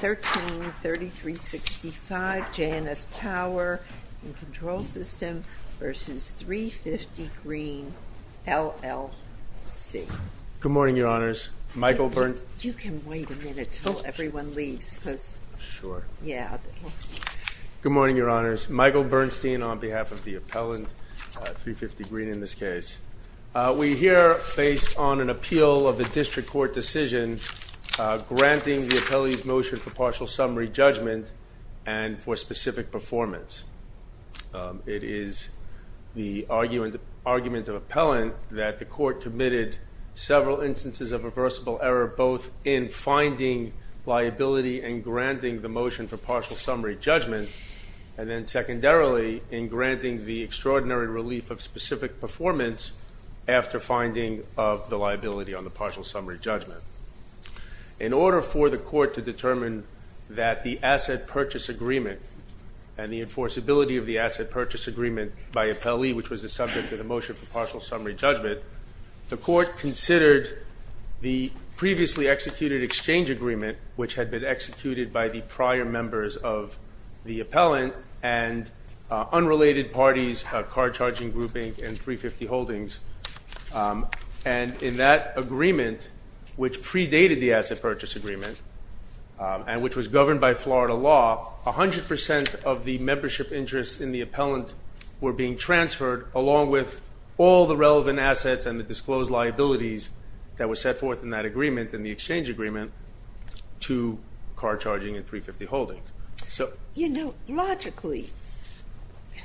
13-3365 JNS Power and Control System v. 350 Green, LLC Good morning, Your Honors. Michael Bernstein You can wait a minute until everyone leaves because Sure Yeah Good morning, Your Honors. Michael Bernstein on behalf of the appellant, 350 Green in this case We here face on an appeal of a district court decision granting the appellee's motion for partial summary judgment and for specific performance It is the argument of appellant that the court committed several instances of reversible error both in finding liability and granting the motion for partial summary judgment And then secondarily in granting the extraordinary relief of specific performance after finding of the liability on the partial summary judgment In order for the court to determine that the asset purchase agreement and the enforceability of the asset purchase agreement by appellee which was the subject of the motion for partial summary judgment The court considered the previously executed exchange agreement which had been executed by the prior members of the appellant and unrelated parties, car charging grouping and 350 Holdings And in that agreement which predated the asset purchase agreement and which was governed by Florida law, 100% of the membership interest in the appellant were being transferred along with all the relevant assets and the disclosed liabilities that were set forth in that agreement in the exchange agreement to car charging and 350 Holdings So you know logically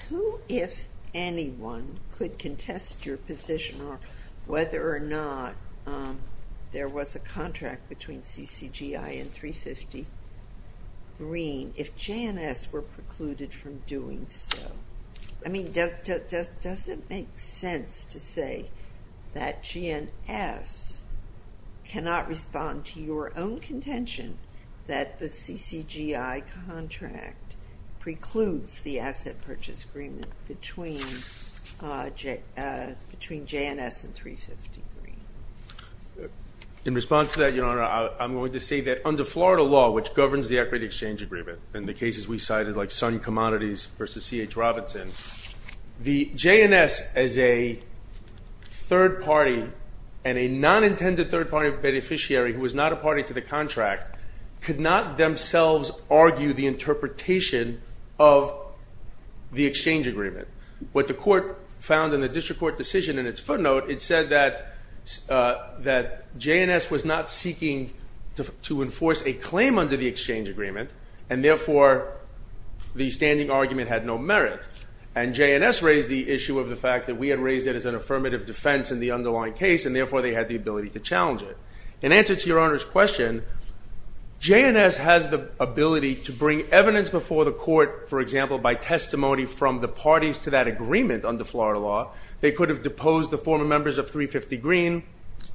who if anyone could contest your position or whether or not there was a contract between CCGI and 350 Green if JNS were precluded from doing so I mean does it make sense to say that JNS cannot respond to your own contention that the CCGI contract precludes the asset purchase agreement between JNS and 350 Green In response to that your honor I'm going to say that under Florida law which governs the equity exchange agreement and the cases we cited like Sun Commodities versus C.H. Robinson The JNS as a third party and a non-intended third party beneficiary who was not a party to the contract could not themselves argue the interpretation of the exchange agreement What the court found in the district court decision in its footnote it said that JNS was not seeking to enforce a claim under the exchange agreement and therefore the standing argument had no merit And JNS raised the issue of the fact that we had raised it as an affirmative defense in the underlying case and therefore they had the ability to challenge it In answer to your honors question JNS has the ability to bring evidence before the court for example by testimony from the parties to that agreement under Florida law They could have deposed the former members of 350 Green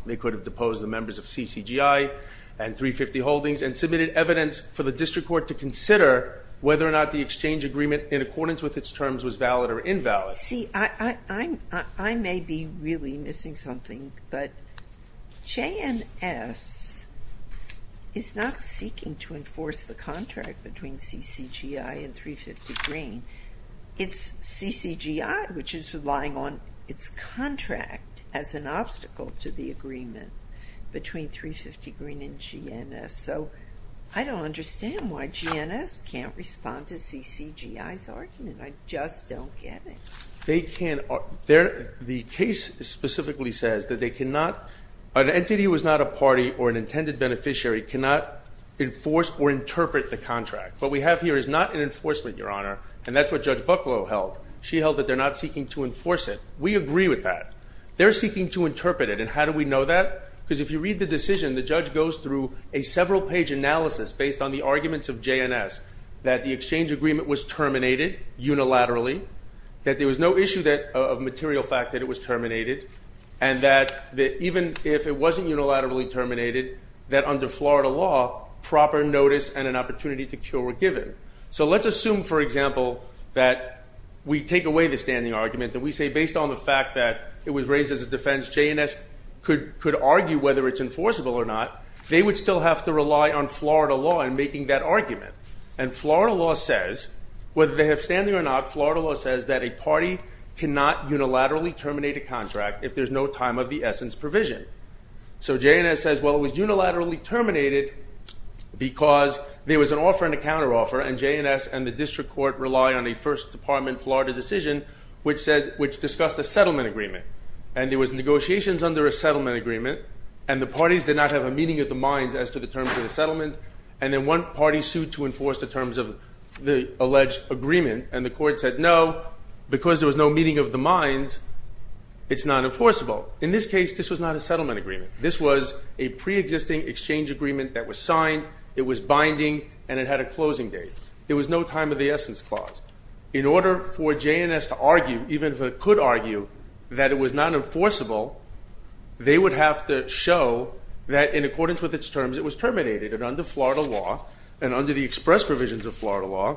they could have deposed the members of CCGI and 350 Holdings and submitted evidence for the district court to consider whether or not the exchange agreement in accordance with its terms was valid or invalid See I may be really missing something but JNS is not seeking to enforce the contract between CCGI and 350 Green It's CCGI which is relying on its contract as an obstacle to the agreement between 350 Green and JNS so I don't understand why JNS can't respond to CCGI's argument I just don't get it The case specifically says that an entity who is not a party or an intended beneficiary cannot enforce or interpret the contract what we have here is not an enforcement your honor and that's what Judge Bucklow held She held that they're not seeking to enforce it we agree with that they're seeking to interpret it and how do we know that because if you read the decision the judge goes through a several page analysis based on the arguments of JNS That the exchange agreement was terminated unilaterally that there was no issue of material fact that it was terminated and that even if it wasn't unilaterally terminated that under Florida law proper notice and an opportunity to cure were given So let's assume for example that we take away the standing argument that we say based on the fact that it was raised as a defense JNS could argue whether it's enforceable or not they would still have to rely on Florida law in making that argument And Florida law says whether they have standing or not Florida law says that a party cannot unilaterally terminate a contract if there's no time of the essence provision So JNS says well it was unilaterally terminated because there was an offer and a counteroffer and JNS and the district court relied on a first department Florida decision which said which discussed a settlement agreement And there was negotiations under a settlement agreement and the parties did not have a meeting of the minds as to the terms of the settlement and then one party sued to enforce the terms of the alleged agreement and the court said no because there was no meeting of the minds It's not enforceable in this case this was not a settlement agreement this was a pre-existing exchange agreement that was signed it was binding and it had a closing date It was no time of the essence clause in order for JNS to argue even if it could argue that it was not enforceable they would have to show that in accordance with its terms it was terminated Under Florida law and under the express provisions of Florida law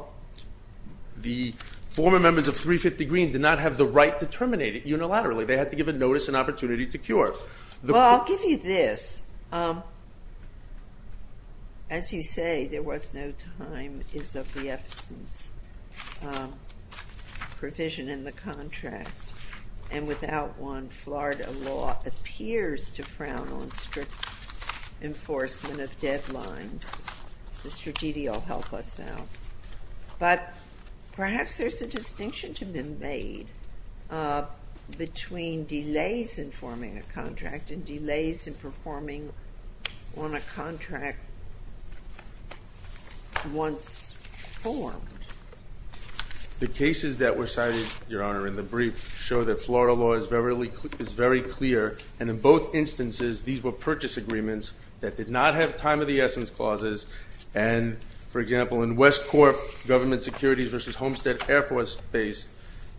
the former members of 350 Green did not have the right to terminate it unilaterally they had to give a notice and opportunity to cure Well I'll give you this as you say there was no time is of the essence provision in the contract and without one Florida law appears to frown on strict enforcement of deadlines Perhaps there is a distinction to be made between delays in forming a contract and delays in performing on a contract once formed The cases that were cited your honor in the brief show that Florida law is very clear and in both instances these were purchase agreements that did not have time of the essence clauses And for example in Westcorp government securities versus Homestead Air Force Base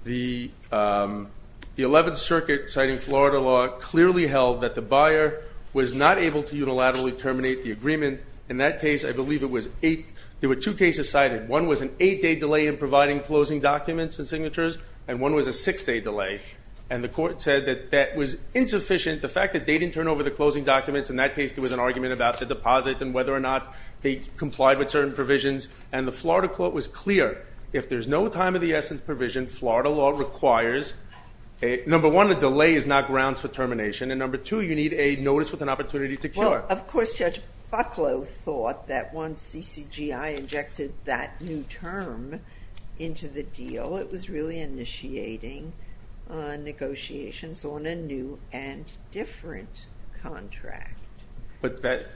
the 11th circuit citing Florida law clearly held that the buyer was not able to unilaterally terminate the agreement In that case I believe it was eight there were two cases cited one was an eight day delay in providing closing documents and signatures and one was a six day delay And the court said that that was insufficient the fact that they didn't turn over the closing documents in that case there was an argument about the deposit and whether or not they complied with certain provisions And the Florida court was clear if there's no time of the essence provision Florida law requires number one a delay is not grounds for termination and number two you need a notice with an opportunity to cure Of course Judge Bucklow thought that once CCGI injected that new term into the deal it was really initiating negotiations on a new and different contract But that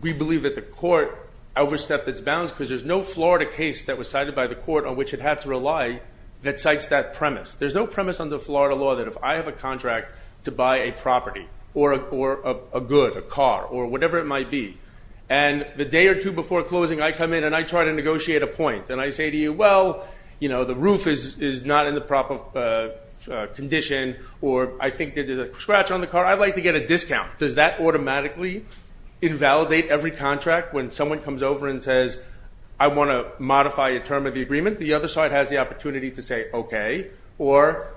we believe that the court overstepped its bounds because there's no Florida case that was cited by the court on which it had to rely that cites that premise There's no premise under Florida law that if I have a contract to buy a property or a good a car or whatever it might be and the day or two before closing I come in and I try to negotiate a point And I say to you well you know the roof is not in the proper condition or I think there's a scratch on the car I'd like to get a discount does that automatically invalidate every contract When someone comes over and says I want to modify a term of the agreement the other side has the opportunity to say okay or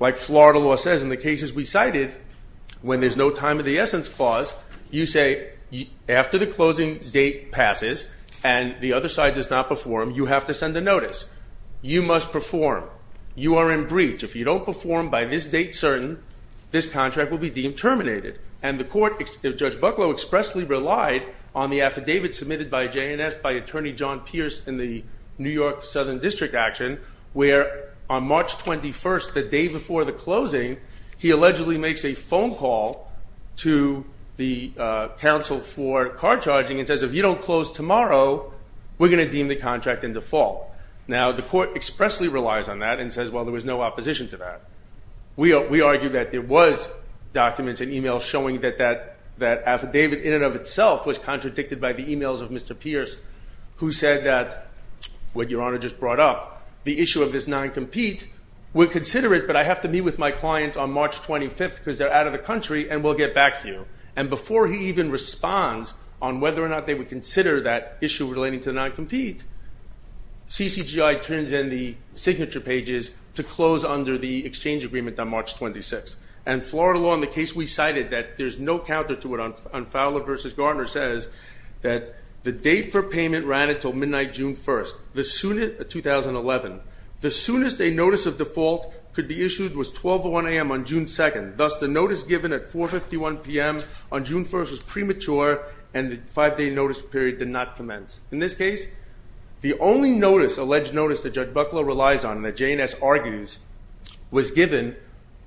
like Florida law says in the cases we cited when there's no time of the essence clause You say after the closing date passes and the other side does not perform you have to send a notice you must perform you are in breach if you don't perform by this date certain this contract will be deemed terminated And the court Judge Bucklow expressly relied on the affidavit submitted by JNS by attorney John Pierce in the New York Southern District action where on March 21st the day before the closing He allegedly makes a phone call to the council for car charging and says if you don't close tomorrow we're going to deem the contract in default Now the court expressly relies on that and says well there was no opposition to that we argue that there was documents and e-mails showing that that affidavit in and of itself was contradicted by the e-mails of Mr. Pierce Who said that what your honor just brought up the issue of this non-compete we'll consider it but I have to meet with my clients on March 25th because they're out of the country and we'll get back to you And before he even responds on whether or not they would consider that issue relating to non-compete CCGI turns in the signature pages to close under the exchange agreement on March 26th And Florida law in the case we cited that there's no counter to it on Fowler v. Gardner says that the date for payment ran until midnight June 1st 2011 The soonest a notice of default could be issued was 12 or 1 a.m. on June 2nd thus the notice given at 4.51 p.m. on June 1st was premature and the five day notice period did not commence In this case the only notice alleged notice that Judge Bucklow relies on that JNS argues was given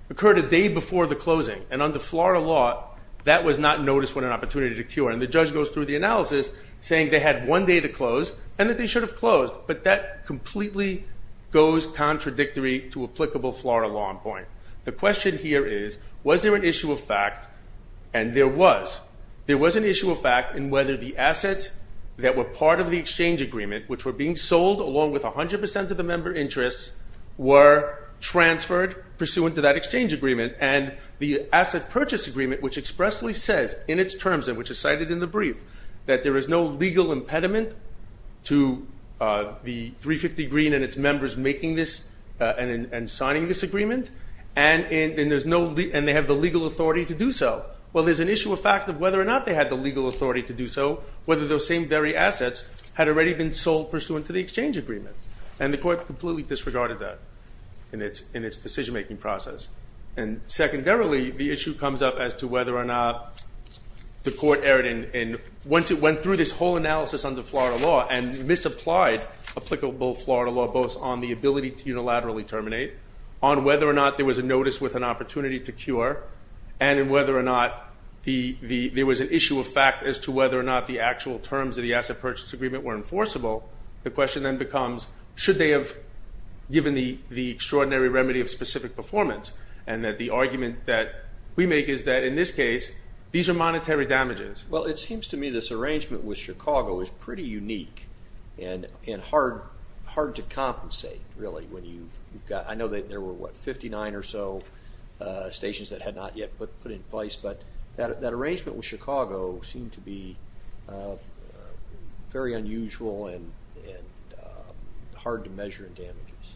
occurred a day before the closing and under Florida law that was not noticed when an opportunity to cure And the judge goes through the analysis saying they had one day to close and that they should have closed but that completely goes contradictory to applicable Florida law in point The question here is was there an issue of fact and there was. There was an issue of fact in whether the assets that were part of the exchange agreement which were being sold along with 100% of the member interests were transferred pursuant to that exchange agreement And the asset purchase agreement which expressly says in its terms and which is cited in the brief that there is no legal impediment to the 350 Green and its members making this and signing this agreement And they have the legal authority to do so. Well there's an issue of fact of whether or not they had the legal authority to do so whether those same very assets had already been sold pursuant to the exchange agreement And the court completely disregarded that in its decision making process and secondarily the issue comes up as to whether or not the court erred in once it went through this whole analysis under Florida law and misapplied applicable Florida law both on the ability to unilaterally terminate On whether or not there was a notice with an opportunity to cure and whether or not there was an issue of fact as to whether or not the actual terms of the asset purchase agreement were enforceable the question then becomes should they have given the extraordinary remedy of specific performance and that the argument that we make is that in this case these are monetary damages Well it seems to me this arrangement with Chicago is pretty unique and hard to compensate really when you've got I know there were what 59 or so stations that had not yet been put in place but that arrangement with Chicago seemed to be very unusual and hard to measure in damages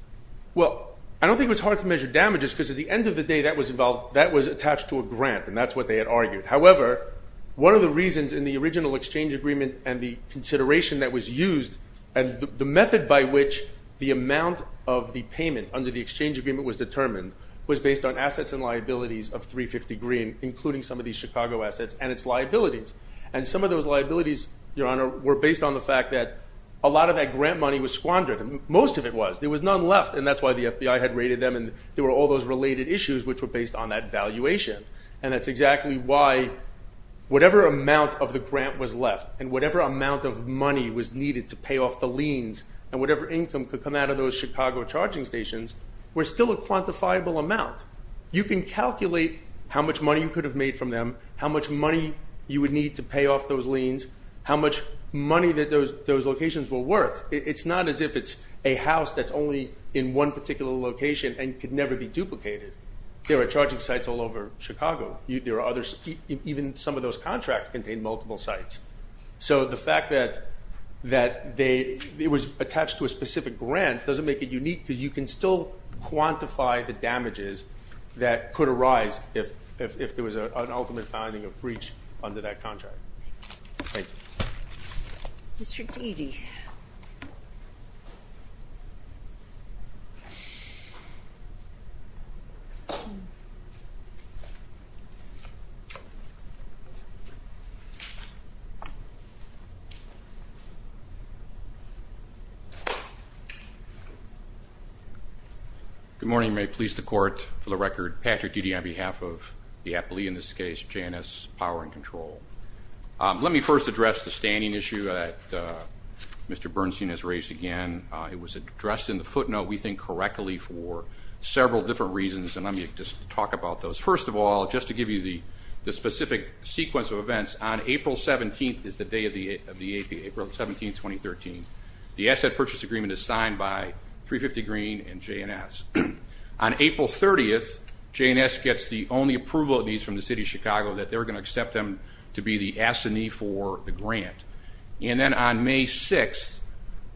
Well I don't think it was hard to measure damages because at the end of the day that was attached to a grant and that's what they had argued however one of the reasons in the original exchange agreement and the consideration that was used and the method by which the amount of the payment under the exchange agreement was determined was based on assets and liabilities of 350 green including some of these Chicago assets and its liabilities And some of those liabilities your honor were based on the fact that a lot of that grant money was squandered most of it was there was none left and that's why the FBI had raided them and there were all those related issues which were based on that valuation and that's exactly why whatever amount of the grant was left and whatever amount of money was needed to pay off the liens and whatever income could come out of those Chicago charging stations were still a quantifiable amount You can calculate how much money you could have made from them how much money you would need to pay off those liens how much money that those locations were worth it's not as if it's a house that's only in one particular location and could never be duplicated There are charging sites all over Chicago there are others even some of those contracts contain multiple sites so the fact that it was attached to a specific grant doesn't make it unique because you can still quantify the damages that could arise if there was an ultimate finding of breach under that contract. Thank you. Good morning may it please the court for the record Patrick Dede on behalf of the appellee in this case Janice Power and Control. Let me first address the standing issue that Mr. Bernstein has raised again it was addressed in the footnote we think correctly for several different reasons and let me just talk about those. First of all just to give you the specific sequence of events on April 17th is the day of the AP April 17 2013 the asset purchase agreement is signed by 350 green and JNS. On April 30th JNS gets the only approval it needs from the city of Chicago that they're going to accept them to be the assignee for the grant and then on May 6th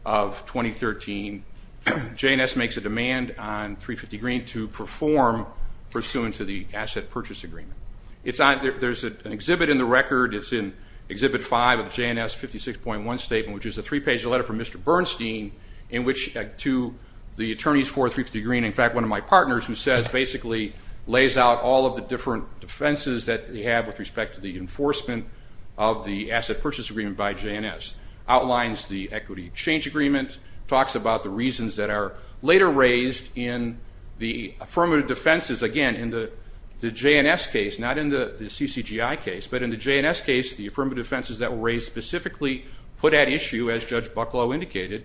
of 2013 JNS makes a demand on 350 green to perform pursuant to the asset purchase agreement. There's an exhibit in the record it's in exhibit 5 of JNS 56.1 statement which is a three page letter from Mr. Bernstein in which to the attorneys for 350 green in fact one of my partners who says basically lays out all of the different defenses that they have with respect to the enforcement of the asset purchase agreement by JNS. Not in the CCGI case but in the JNS case the affirmative defenses that were raised specifically put at issue as Judge Bucklow indicated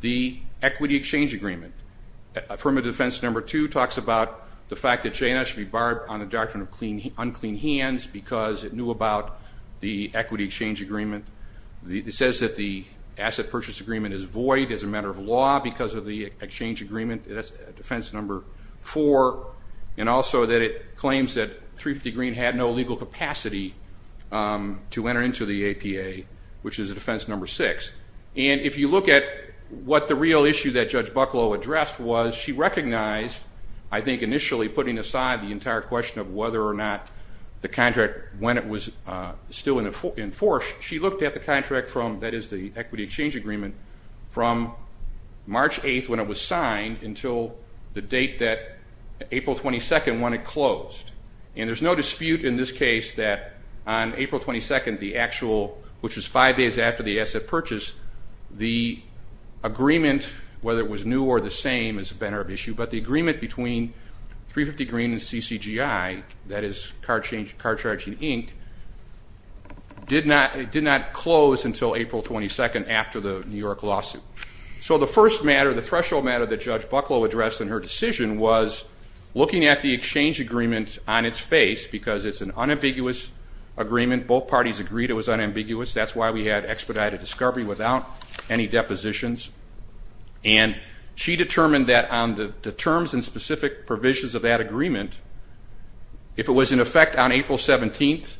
the equity exchange agreement. Affirmative defense number two talks about the fact that JNS should be barred on the doctrine of unclean hands because it knew about the equity exchange agreement. It says that the asset purchase agreement is void as a matter of law because of the exchange agreement. That's defense number four and also that it claims that 350 green had no legal capacity to enter into the APA which is a defense number six. And if you look at what the real issue that Judge Bucklow addressed was she recognized I think initially putting aside the entire question of whether or not the contract when it was still in force she looked at the contract from that is the equity exchange agreement from March 8th when it was signed until the date that April 22nd when it closed. And there's no dispute in this case that on April 22nd the actual which is five days after the asset purchase the agreement whether it was new or the same is a matter of issue. But the agreement between 350 green and CCGI that is card charging Inc. did not close until April 22nd after the New York lawsuit. So the first matter, the threshold matter that Judge Bucklow addressed in her decision was looking at the exchange agreement on its face because it's an unambiguous agreement. Both parties agreed it was unambiguous. That's why we had expedited discovery without any depositions. And she determined that on the terms and specific provisions of that agreement if it was in effect on April 17th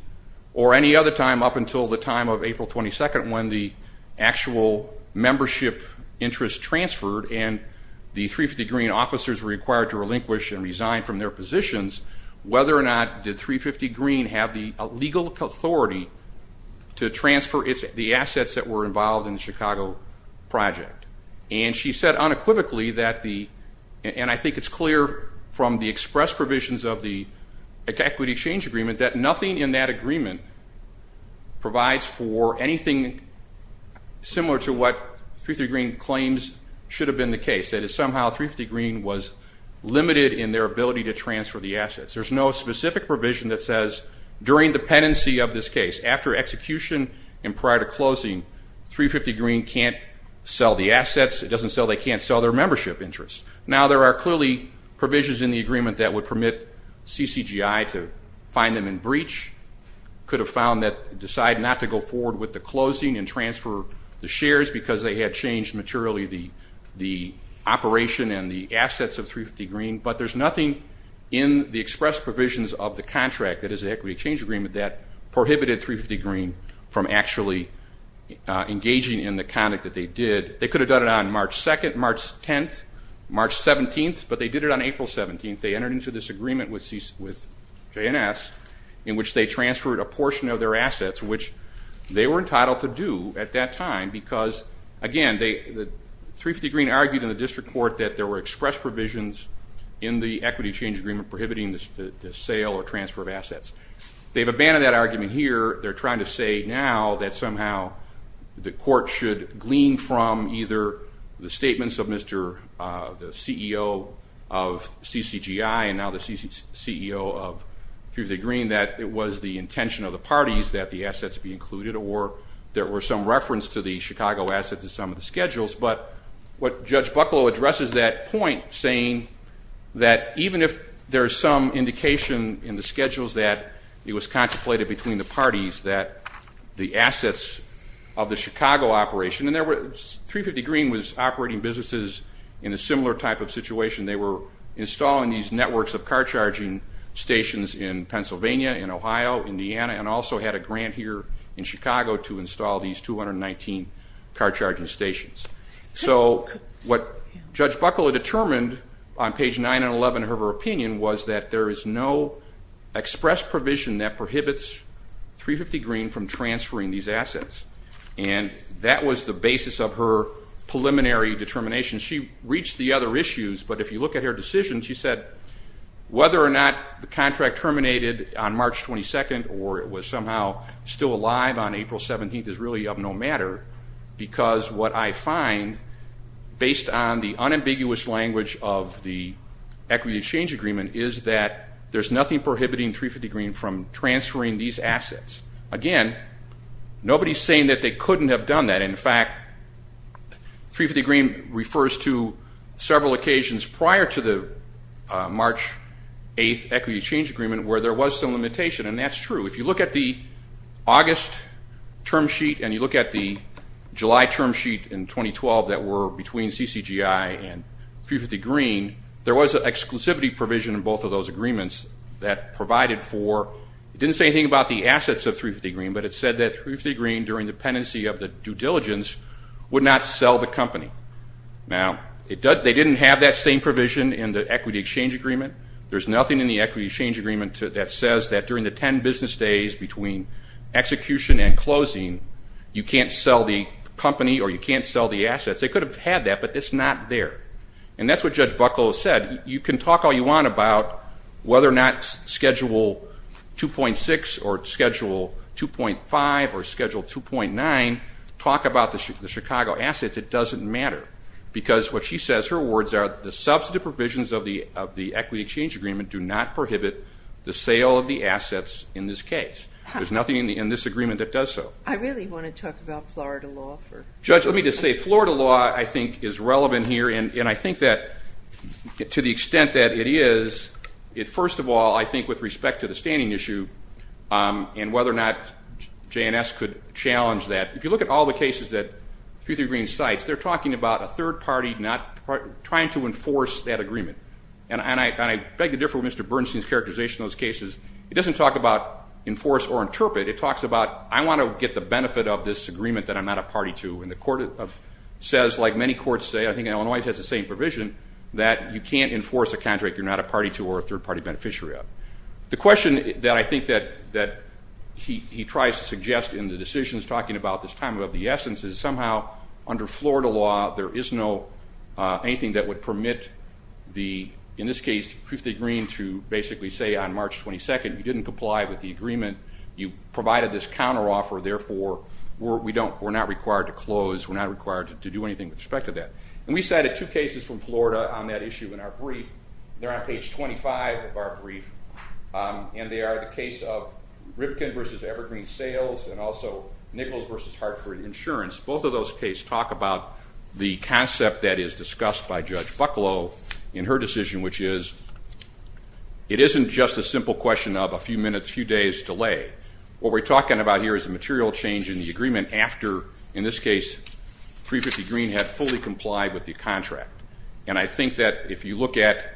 or any other time up until the time of April 22nd when the actual membership interest transferred and the 350 green officers were required to relinquish and resign from their positions whether or not did 350 green have the legal authority to transfer the assets that were involved in the Chicago project. And she said unequivocally that the and I think it's clear from the express provisions of the equity exchange agreement that nothing in that agreement provides for anything similar to what 350 green claims should have been the case. That is somehow 350 green was limited in their ability to transfer the assets. There's no specific provision that says during the pendency of this case, after execution and prior to closing, 350 green can't sell the assets. It doesn't say they can't sell their membership interest. Now, there are clearly provisions in the agreement that would permit CCGI to find them in breach, could have found that decide not to go forward with the closing and transfer the shares because they had changed materially the operation and the assets of 350 green. But there's nothing in the express provisions of the contract that is the equity exchange agreement that prohibited 350 green from actually engaging in the conduct that they did. They could have done it on March 2nd, March 10th, March 17th, but they did it on April 17th. They entered into this agreement with JNS in which they transferred a portion of their assets, which they were entitled to do at that time because, again, 350 green argued in the district court that there were express provisions in the equity change agreement prohibiting the sale or transfer of assets. They've abandoned that argument here. They're trying to say now that somehow the court should glean from either the statements of the CEO of CCGI and now the CEO of 350 green that it was the intention of the parties that the assets be included or there were some reference to the Chicago assets in some of the schedules. But what Judge Bucklow addresses that point saying that even if there's some indication in the schedules that it was contemplated between the parties that the assets of the Chicago operation, and 350 green was operating businesses in a similar type of situation. They were installing these networks of car charging stations in Pennsylvania, in Ohio, Indiana, and also had a grant here in Chicago to install these 219 car charging stations. So what Judge Bucklow determined on page 9 and 11 of her opinion was that there is no express provision that prohibits 350 green from transferring these assets. And that was the basis of her preliminary determination. She reached the other issues, but if you look at her decision, she said whether or not the contract terminated on March 22nd or it was somehow still alive on April 17th is really of no matter. Because what I find based on the unambiguous language of the equity change agreement is that there's nothing prohibiting 350 green from transferring these assets. Again, nobody's saying that they couldn't have done that. In fact, 350 green refers to several occasions prior to the March 8th equity change agreement where there was some limitation. And that's true. If you look at the August term sheet and you look at the July term sheet in 2012 that were between CCGI and 350 green, there was an exclusivity provision in both of those agreements that provided for, it didn't say anything about the assets of 350 green, but it said that 350 green during the pendency of the due diligence would not sell the company. Now, they didn't have that same provision in the equity exchange agreement. There's nothing in the equity exchange agreement that says that during the 10 business days between execution and closing, you can't sell the company or you can't sell the assets. They could have had that, but it's not there. And that's what Judge Bucklow said. You can talk all you want about whether or not Schedule 2.6 or Schedule 2.5 or Schedule 2.9, talk about the Chicago assets, it doesn't matter. Because what she says, her words are the substantive provisions of the equity exchange agreement do not prohibit the sale of the assets in this case. There's nothing in this agreement that does so. I really want to talk about Florida law. Judge, let me just say Florida law, I think, is relevant here. And I think that to the extent that it is, first of all, I think with respect to the standing issue and whether or not J&S could challenge that. If you look at all the cases that 350 green cites, they're talking about a third party not trying to enforce that agreement. And I beg to differ with Mr. Bernstein's characterization of those cases. It doesn't talk about enforce or interpret. It talks about I want to get the benefit of this agreement that I'm not a party to. And the court says, like many courts say, I think Illinois has the same provision, that you can't enforce a contract you're not a party to or a third party beneficiary of. The question that I think that he tries to suggest in the decisions talking about this time of the essence is somehow under Florida law, there is no anything that would permit the, in this case, 350 green to basically say on March 22nd, you didn't comply with the agreement. You provided this counteroffer, therefore, we're not required to close. We're not required to do anything with respect to that. And we cited two cases from Florida on that issue in our brief. They're on page 25 of our brief. And they are the case of Ripken v. Evergreen Sales and also Nichols v. Hartford Insurance. Both of those cases talk about the concept that is discussed by Judge Bucklow in her decision, which is it isn't just a simple question of a few minutes, a few days delay. What we're talking about here is a material change in the agreement after, in this case, 350 green had fully complied with the contract. And I think that if you look at,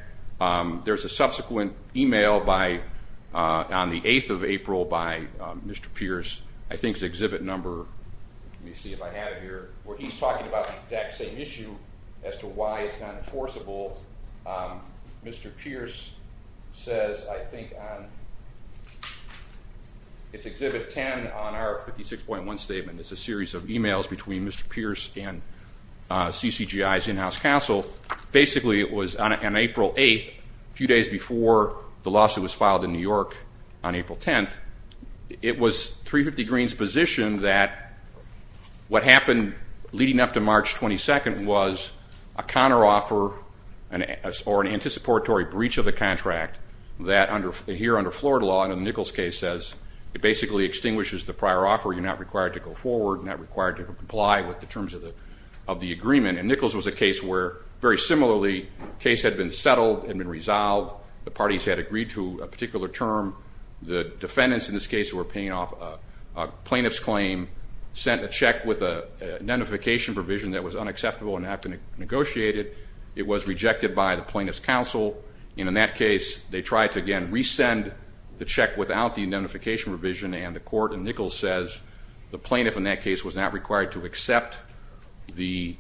there's a subsequent email on the 8th of April by Mr. Pierce. I think it's exhibit number, let me see if I have it here, where he's talking about the exact same issue as to why it's not enforceable. Mr. Pierce says, I think on, it's exhibit 10 on our 56.1 statement. It's a series of emails between Mr. Pierce and CCGI's in-house counsel. Basically, it was on April 8th, a few days before the lawsuit was filed in New York on April 10th. It was 350 green's position that what happened leading up to March 22nd was a counteroffer or an anticipatory breach of the contract that here under Florida law, in the Nichols case, says it basically extinguishes the prior offer. You're not required to go forward, not required to comply with the terms of the agreement. And Nichols was a case where, very similarly, the case had been settled, had been resolved. The parties had agreed to a particular term. The defendants in this case were paying off a plaintiff's claim, sent a check with a notification provision that was unacceptable and not been negotiated. It was rejected by the plaintiff's counsel. And in that case, they tried to, again, resend the check without the notification provision. And the court in Nichols says the plaintiff in that case was not required to accept the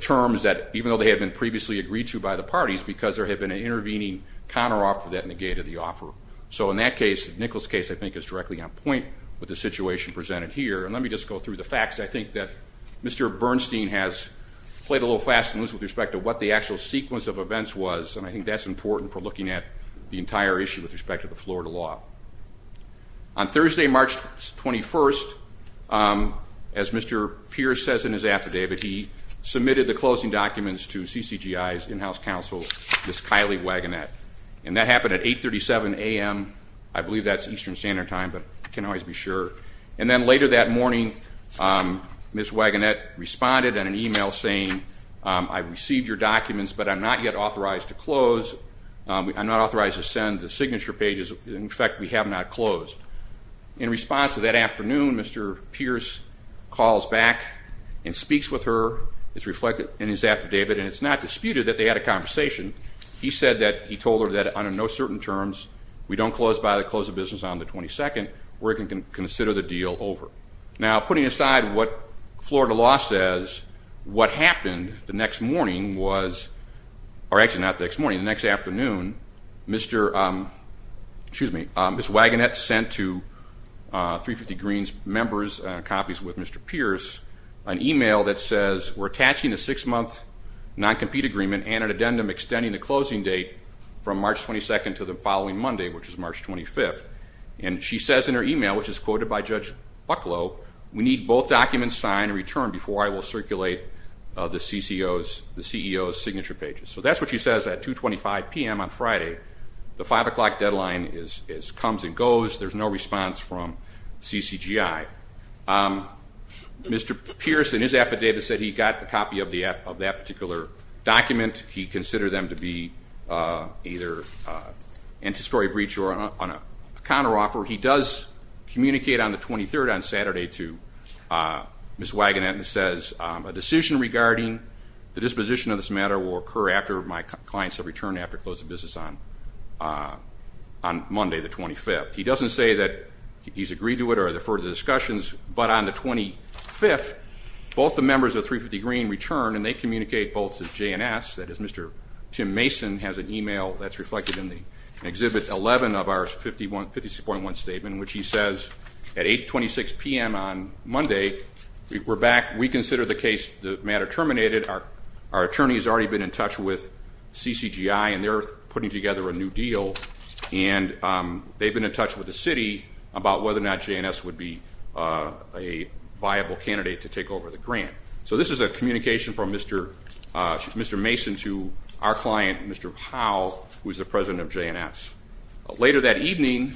terms that, even though they had been previously agreed to by the parties, because there had been an intervening counteroffer that negated the offer. So in that case, Nichols' case, I think, is directly on point with the situation presented here. And let me just go through the facts. I think that Mr. Bernstein has played a little fast and loose with respect to what the actual sequence of events was, and I think that's important for looking at the entire issue with respect to the Florida law. On Thursday, March 21st, as Mr. Pierce says in his affidavit, he submitted the closing documents to CCGI's in-house counsel, Ms. Kylie Wagonett. And that happened at 837 a.m. I believe that's Eastern Standard Time, but I can't always be sure. And then later that morning, Ms. Wagonett responded in an e-mail saying, I received your documents, but I'm not yet authorized to close. I'm not authorized to send the signature pages. In fact, we have not closed. In response to that afternoon, Mr. Pierce calls back and speaks with her. It's reflected in his affidavit, and it's not disputed that they had a conversation. He said that he told her that under no certain terms, we don't close by the close of business on the 22nd. We're going to consider the deal over. Now, putting aside what Florida law says, what happened the next morning was or actually not the next morning, the next afternoon, Ms. Wagonett sent to 350 Green's members copies with Mr. Pierce, an e-mail that says we're attaching a six-month non-compete agreement and an addendum extending the closing date from March 22nd to the following Monday, which is March 25th. And she says in her e-mail, which is quoted by Judge Bucklow, we need both documents signed and returned before I will circulate the CEO's signature pages. So that's what she says at 225 p.m. on Friday. The 5 o'clock deadline comes and goes. There's no response from CCGI. Mr. Pierce, in his affidavit, said he got a copy of that particular document. He considered them to be either anti-story breach or on a counteroffer. He does communicate on the 23rd on Saturday to Ms. Wagonett and says a decision regarding the disposition of this matter will occur after my clients have returned after closing business on Monday the 25th. He doesn't say that he's agreed to it or there are further discussions. But on the 25th, both the members of 350 Green return, and they communicate both to J&S. That is, Mr. Tim Mason has an e-mail that's reflected in Exhibit 11 of our 56.1 statement, which he says at 826 p.m. on Monday, we're back. We consider the case, the matter terminated. Our attorney has already been in touch with CCGI, and they're putting together a new deal. And they've been in touch with the city about whether or not J&S would be a viable candidate to take over the grant. So this is a communication from Mr. Mason to our client, Mr. Howell, who is the president of J&S. Later that evening,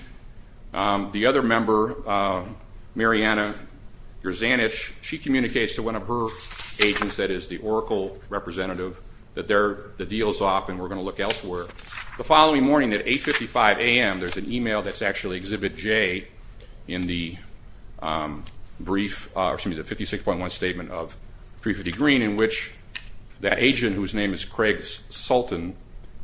the other member, Mariana Yerzanich, she communicates to one of her agents that is the Oracle representative that the deal is off and we're going to look elsewhere. The following morning at 855 a.m., there's an e-mail that's actually Exhibit J in the brief or excuse me, the 56.1 statement of 350 Green in which that agent, whose name is Craig Sultan,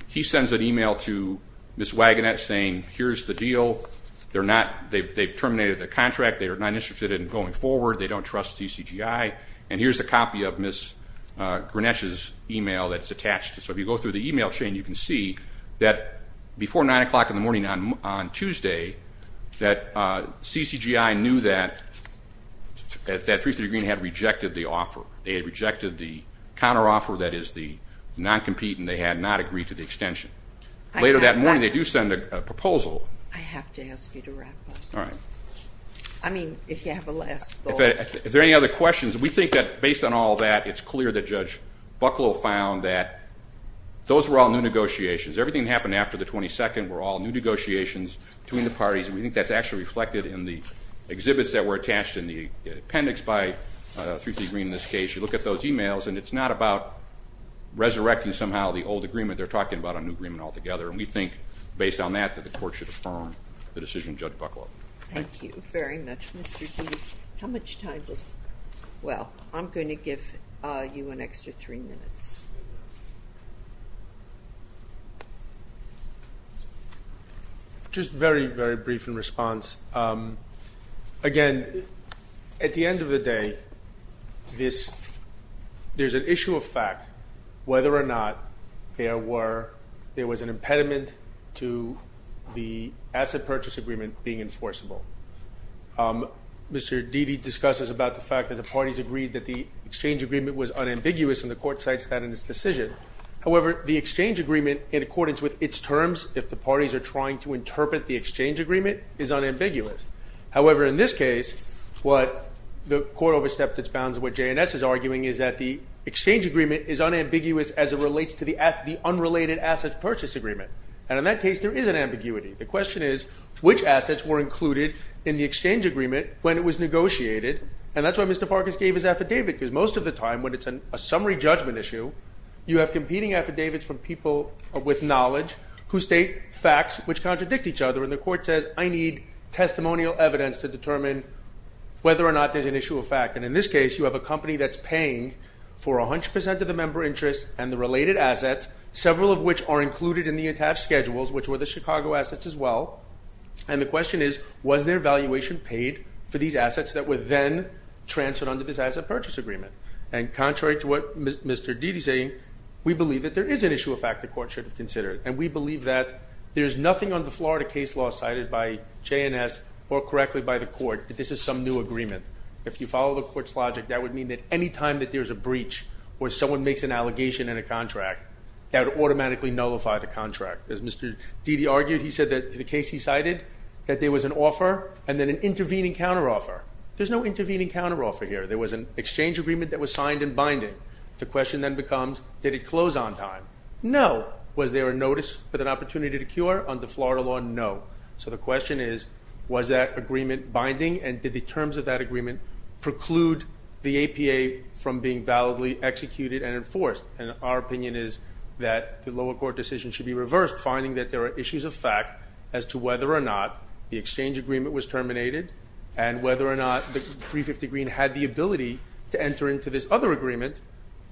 he sends an e-mail to Ms. Wagonet saying here's the deal. They're not they've terminated the contract. They are not interested in going forward. They don't trust CCGI. And here's a copy of Ms. Grenech's e-mail that's attached. So if you go through the e-mail chain, you can see that before 9 o'clock in the morning on Tuesday, that CCGI knew that 330 Green had rejected the offer. They had rejected the counteroffer, that is the non-compete, and they had not agreed to the extension. Later that morning, they do send a proposal. I have to ask you to wrap up. All right. I mean, if you have a last thought. If there are any other questions, we think that based on all that, it's clear that Judge Bucklow found that those were all new negotiations. Everything that happened after the 22nd were all new negotiations between the parties, and we think that's actually reflected in the exhibits that were attached in the appendix by 330 Green in this case. You look at those e-mails, and it's not about resurrecting somehow the old agreement. They're talking about a new agreement altogether, and we think based on that that the court should affirm the decision of Judge Bucklow. Thank you very much, Mr. D. How much time does ñ well, I'm going to give you an extra three minutes. Just very, very brief in response. Again, at the end of the day, there's an issue of fact, whether or not there was an impediment to the asset purchase agreement being enforceable. Mr. Dede discusses about the fact that the parties agreed that the exchange agreement was unambiguous, and the court cites that in its decision. However, the exchange agreement in accordance with its terms, if the parties are trying to interpret the exchange agreement, is unambiguous. However, in this case, what the court overstepped its bounds of what J&S is arguing is that the exchange agreement is unambiguous as it relates to the unrelated asset purchase agreement, and in that case, there is an ambiguity. The question is which assets were included in the exchange agreement when it was negotiated, and that's why Mr. Farkas gave his affidavit because most of the time when it's a summary judgment issue, you have competing affidavits from people with knowledge who state facts which contradict each other, and the court says, I need testimonial evidence to determine whether or not there's an issue of fact, and in this case, you have a company that's paying for 100% of the member interests and the related assets, several of which are included in the attached schedules, which were the Chicago assets as well, and the question is, was their valuation paid for these assets that were then transferred under this asset purchase agreement? And contrary to what Mr. Dede is saying, we believe that there is an issue of fact the court should have considered, and we believe that there's nothing on the Florida case law cited by J&S or correctly by the court that this is some new agreement. If you follow the court's logic, that would mean that any time that there's a breach or someone makes an allegation in a contract, that would automatically nullify the contract. As Mr. Dede argued, he said that in the case he cited, that there was an offer and then an intervening counteroffer. There's no intervening counteroffer here. There was an exchange agreement that was signed and binding. The question then becomes, did it close on time? No. Was there a notice with an opportunity to cure under Florida law? No. So the question is, was that agreement binding, and did the terms of that agreement preclude the APA from being validly executed and enforced? And our opinion is that the lower court decision should be reversed, finding that there are issues of fact as to whether or not the exchange agreement was terminated and whether or not the 350 Green had the ability to enter into this other agreement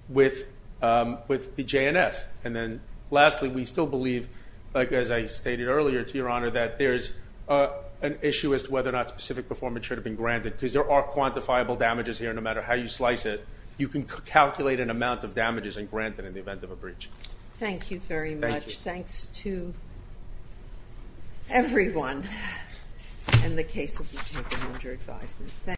with the J&S. And then lastly, we still believe, as I stated earlier to Your Honor, that there's an issue as to whether or not specific performance should have been granted because there are quantifiable damages here no matter how you slice it. You can calculate an amount of damages and grant it in the event of a breach. Thank you very much. Thank you. Thank you, everyone, and the case will be taken under advisement.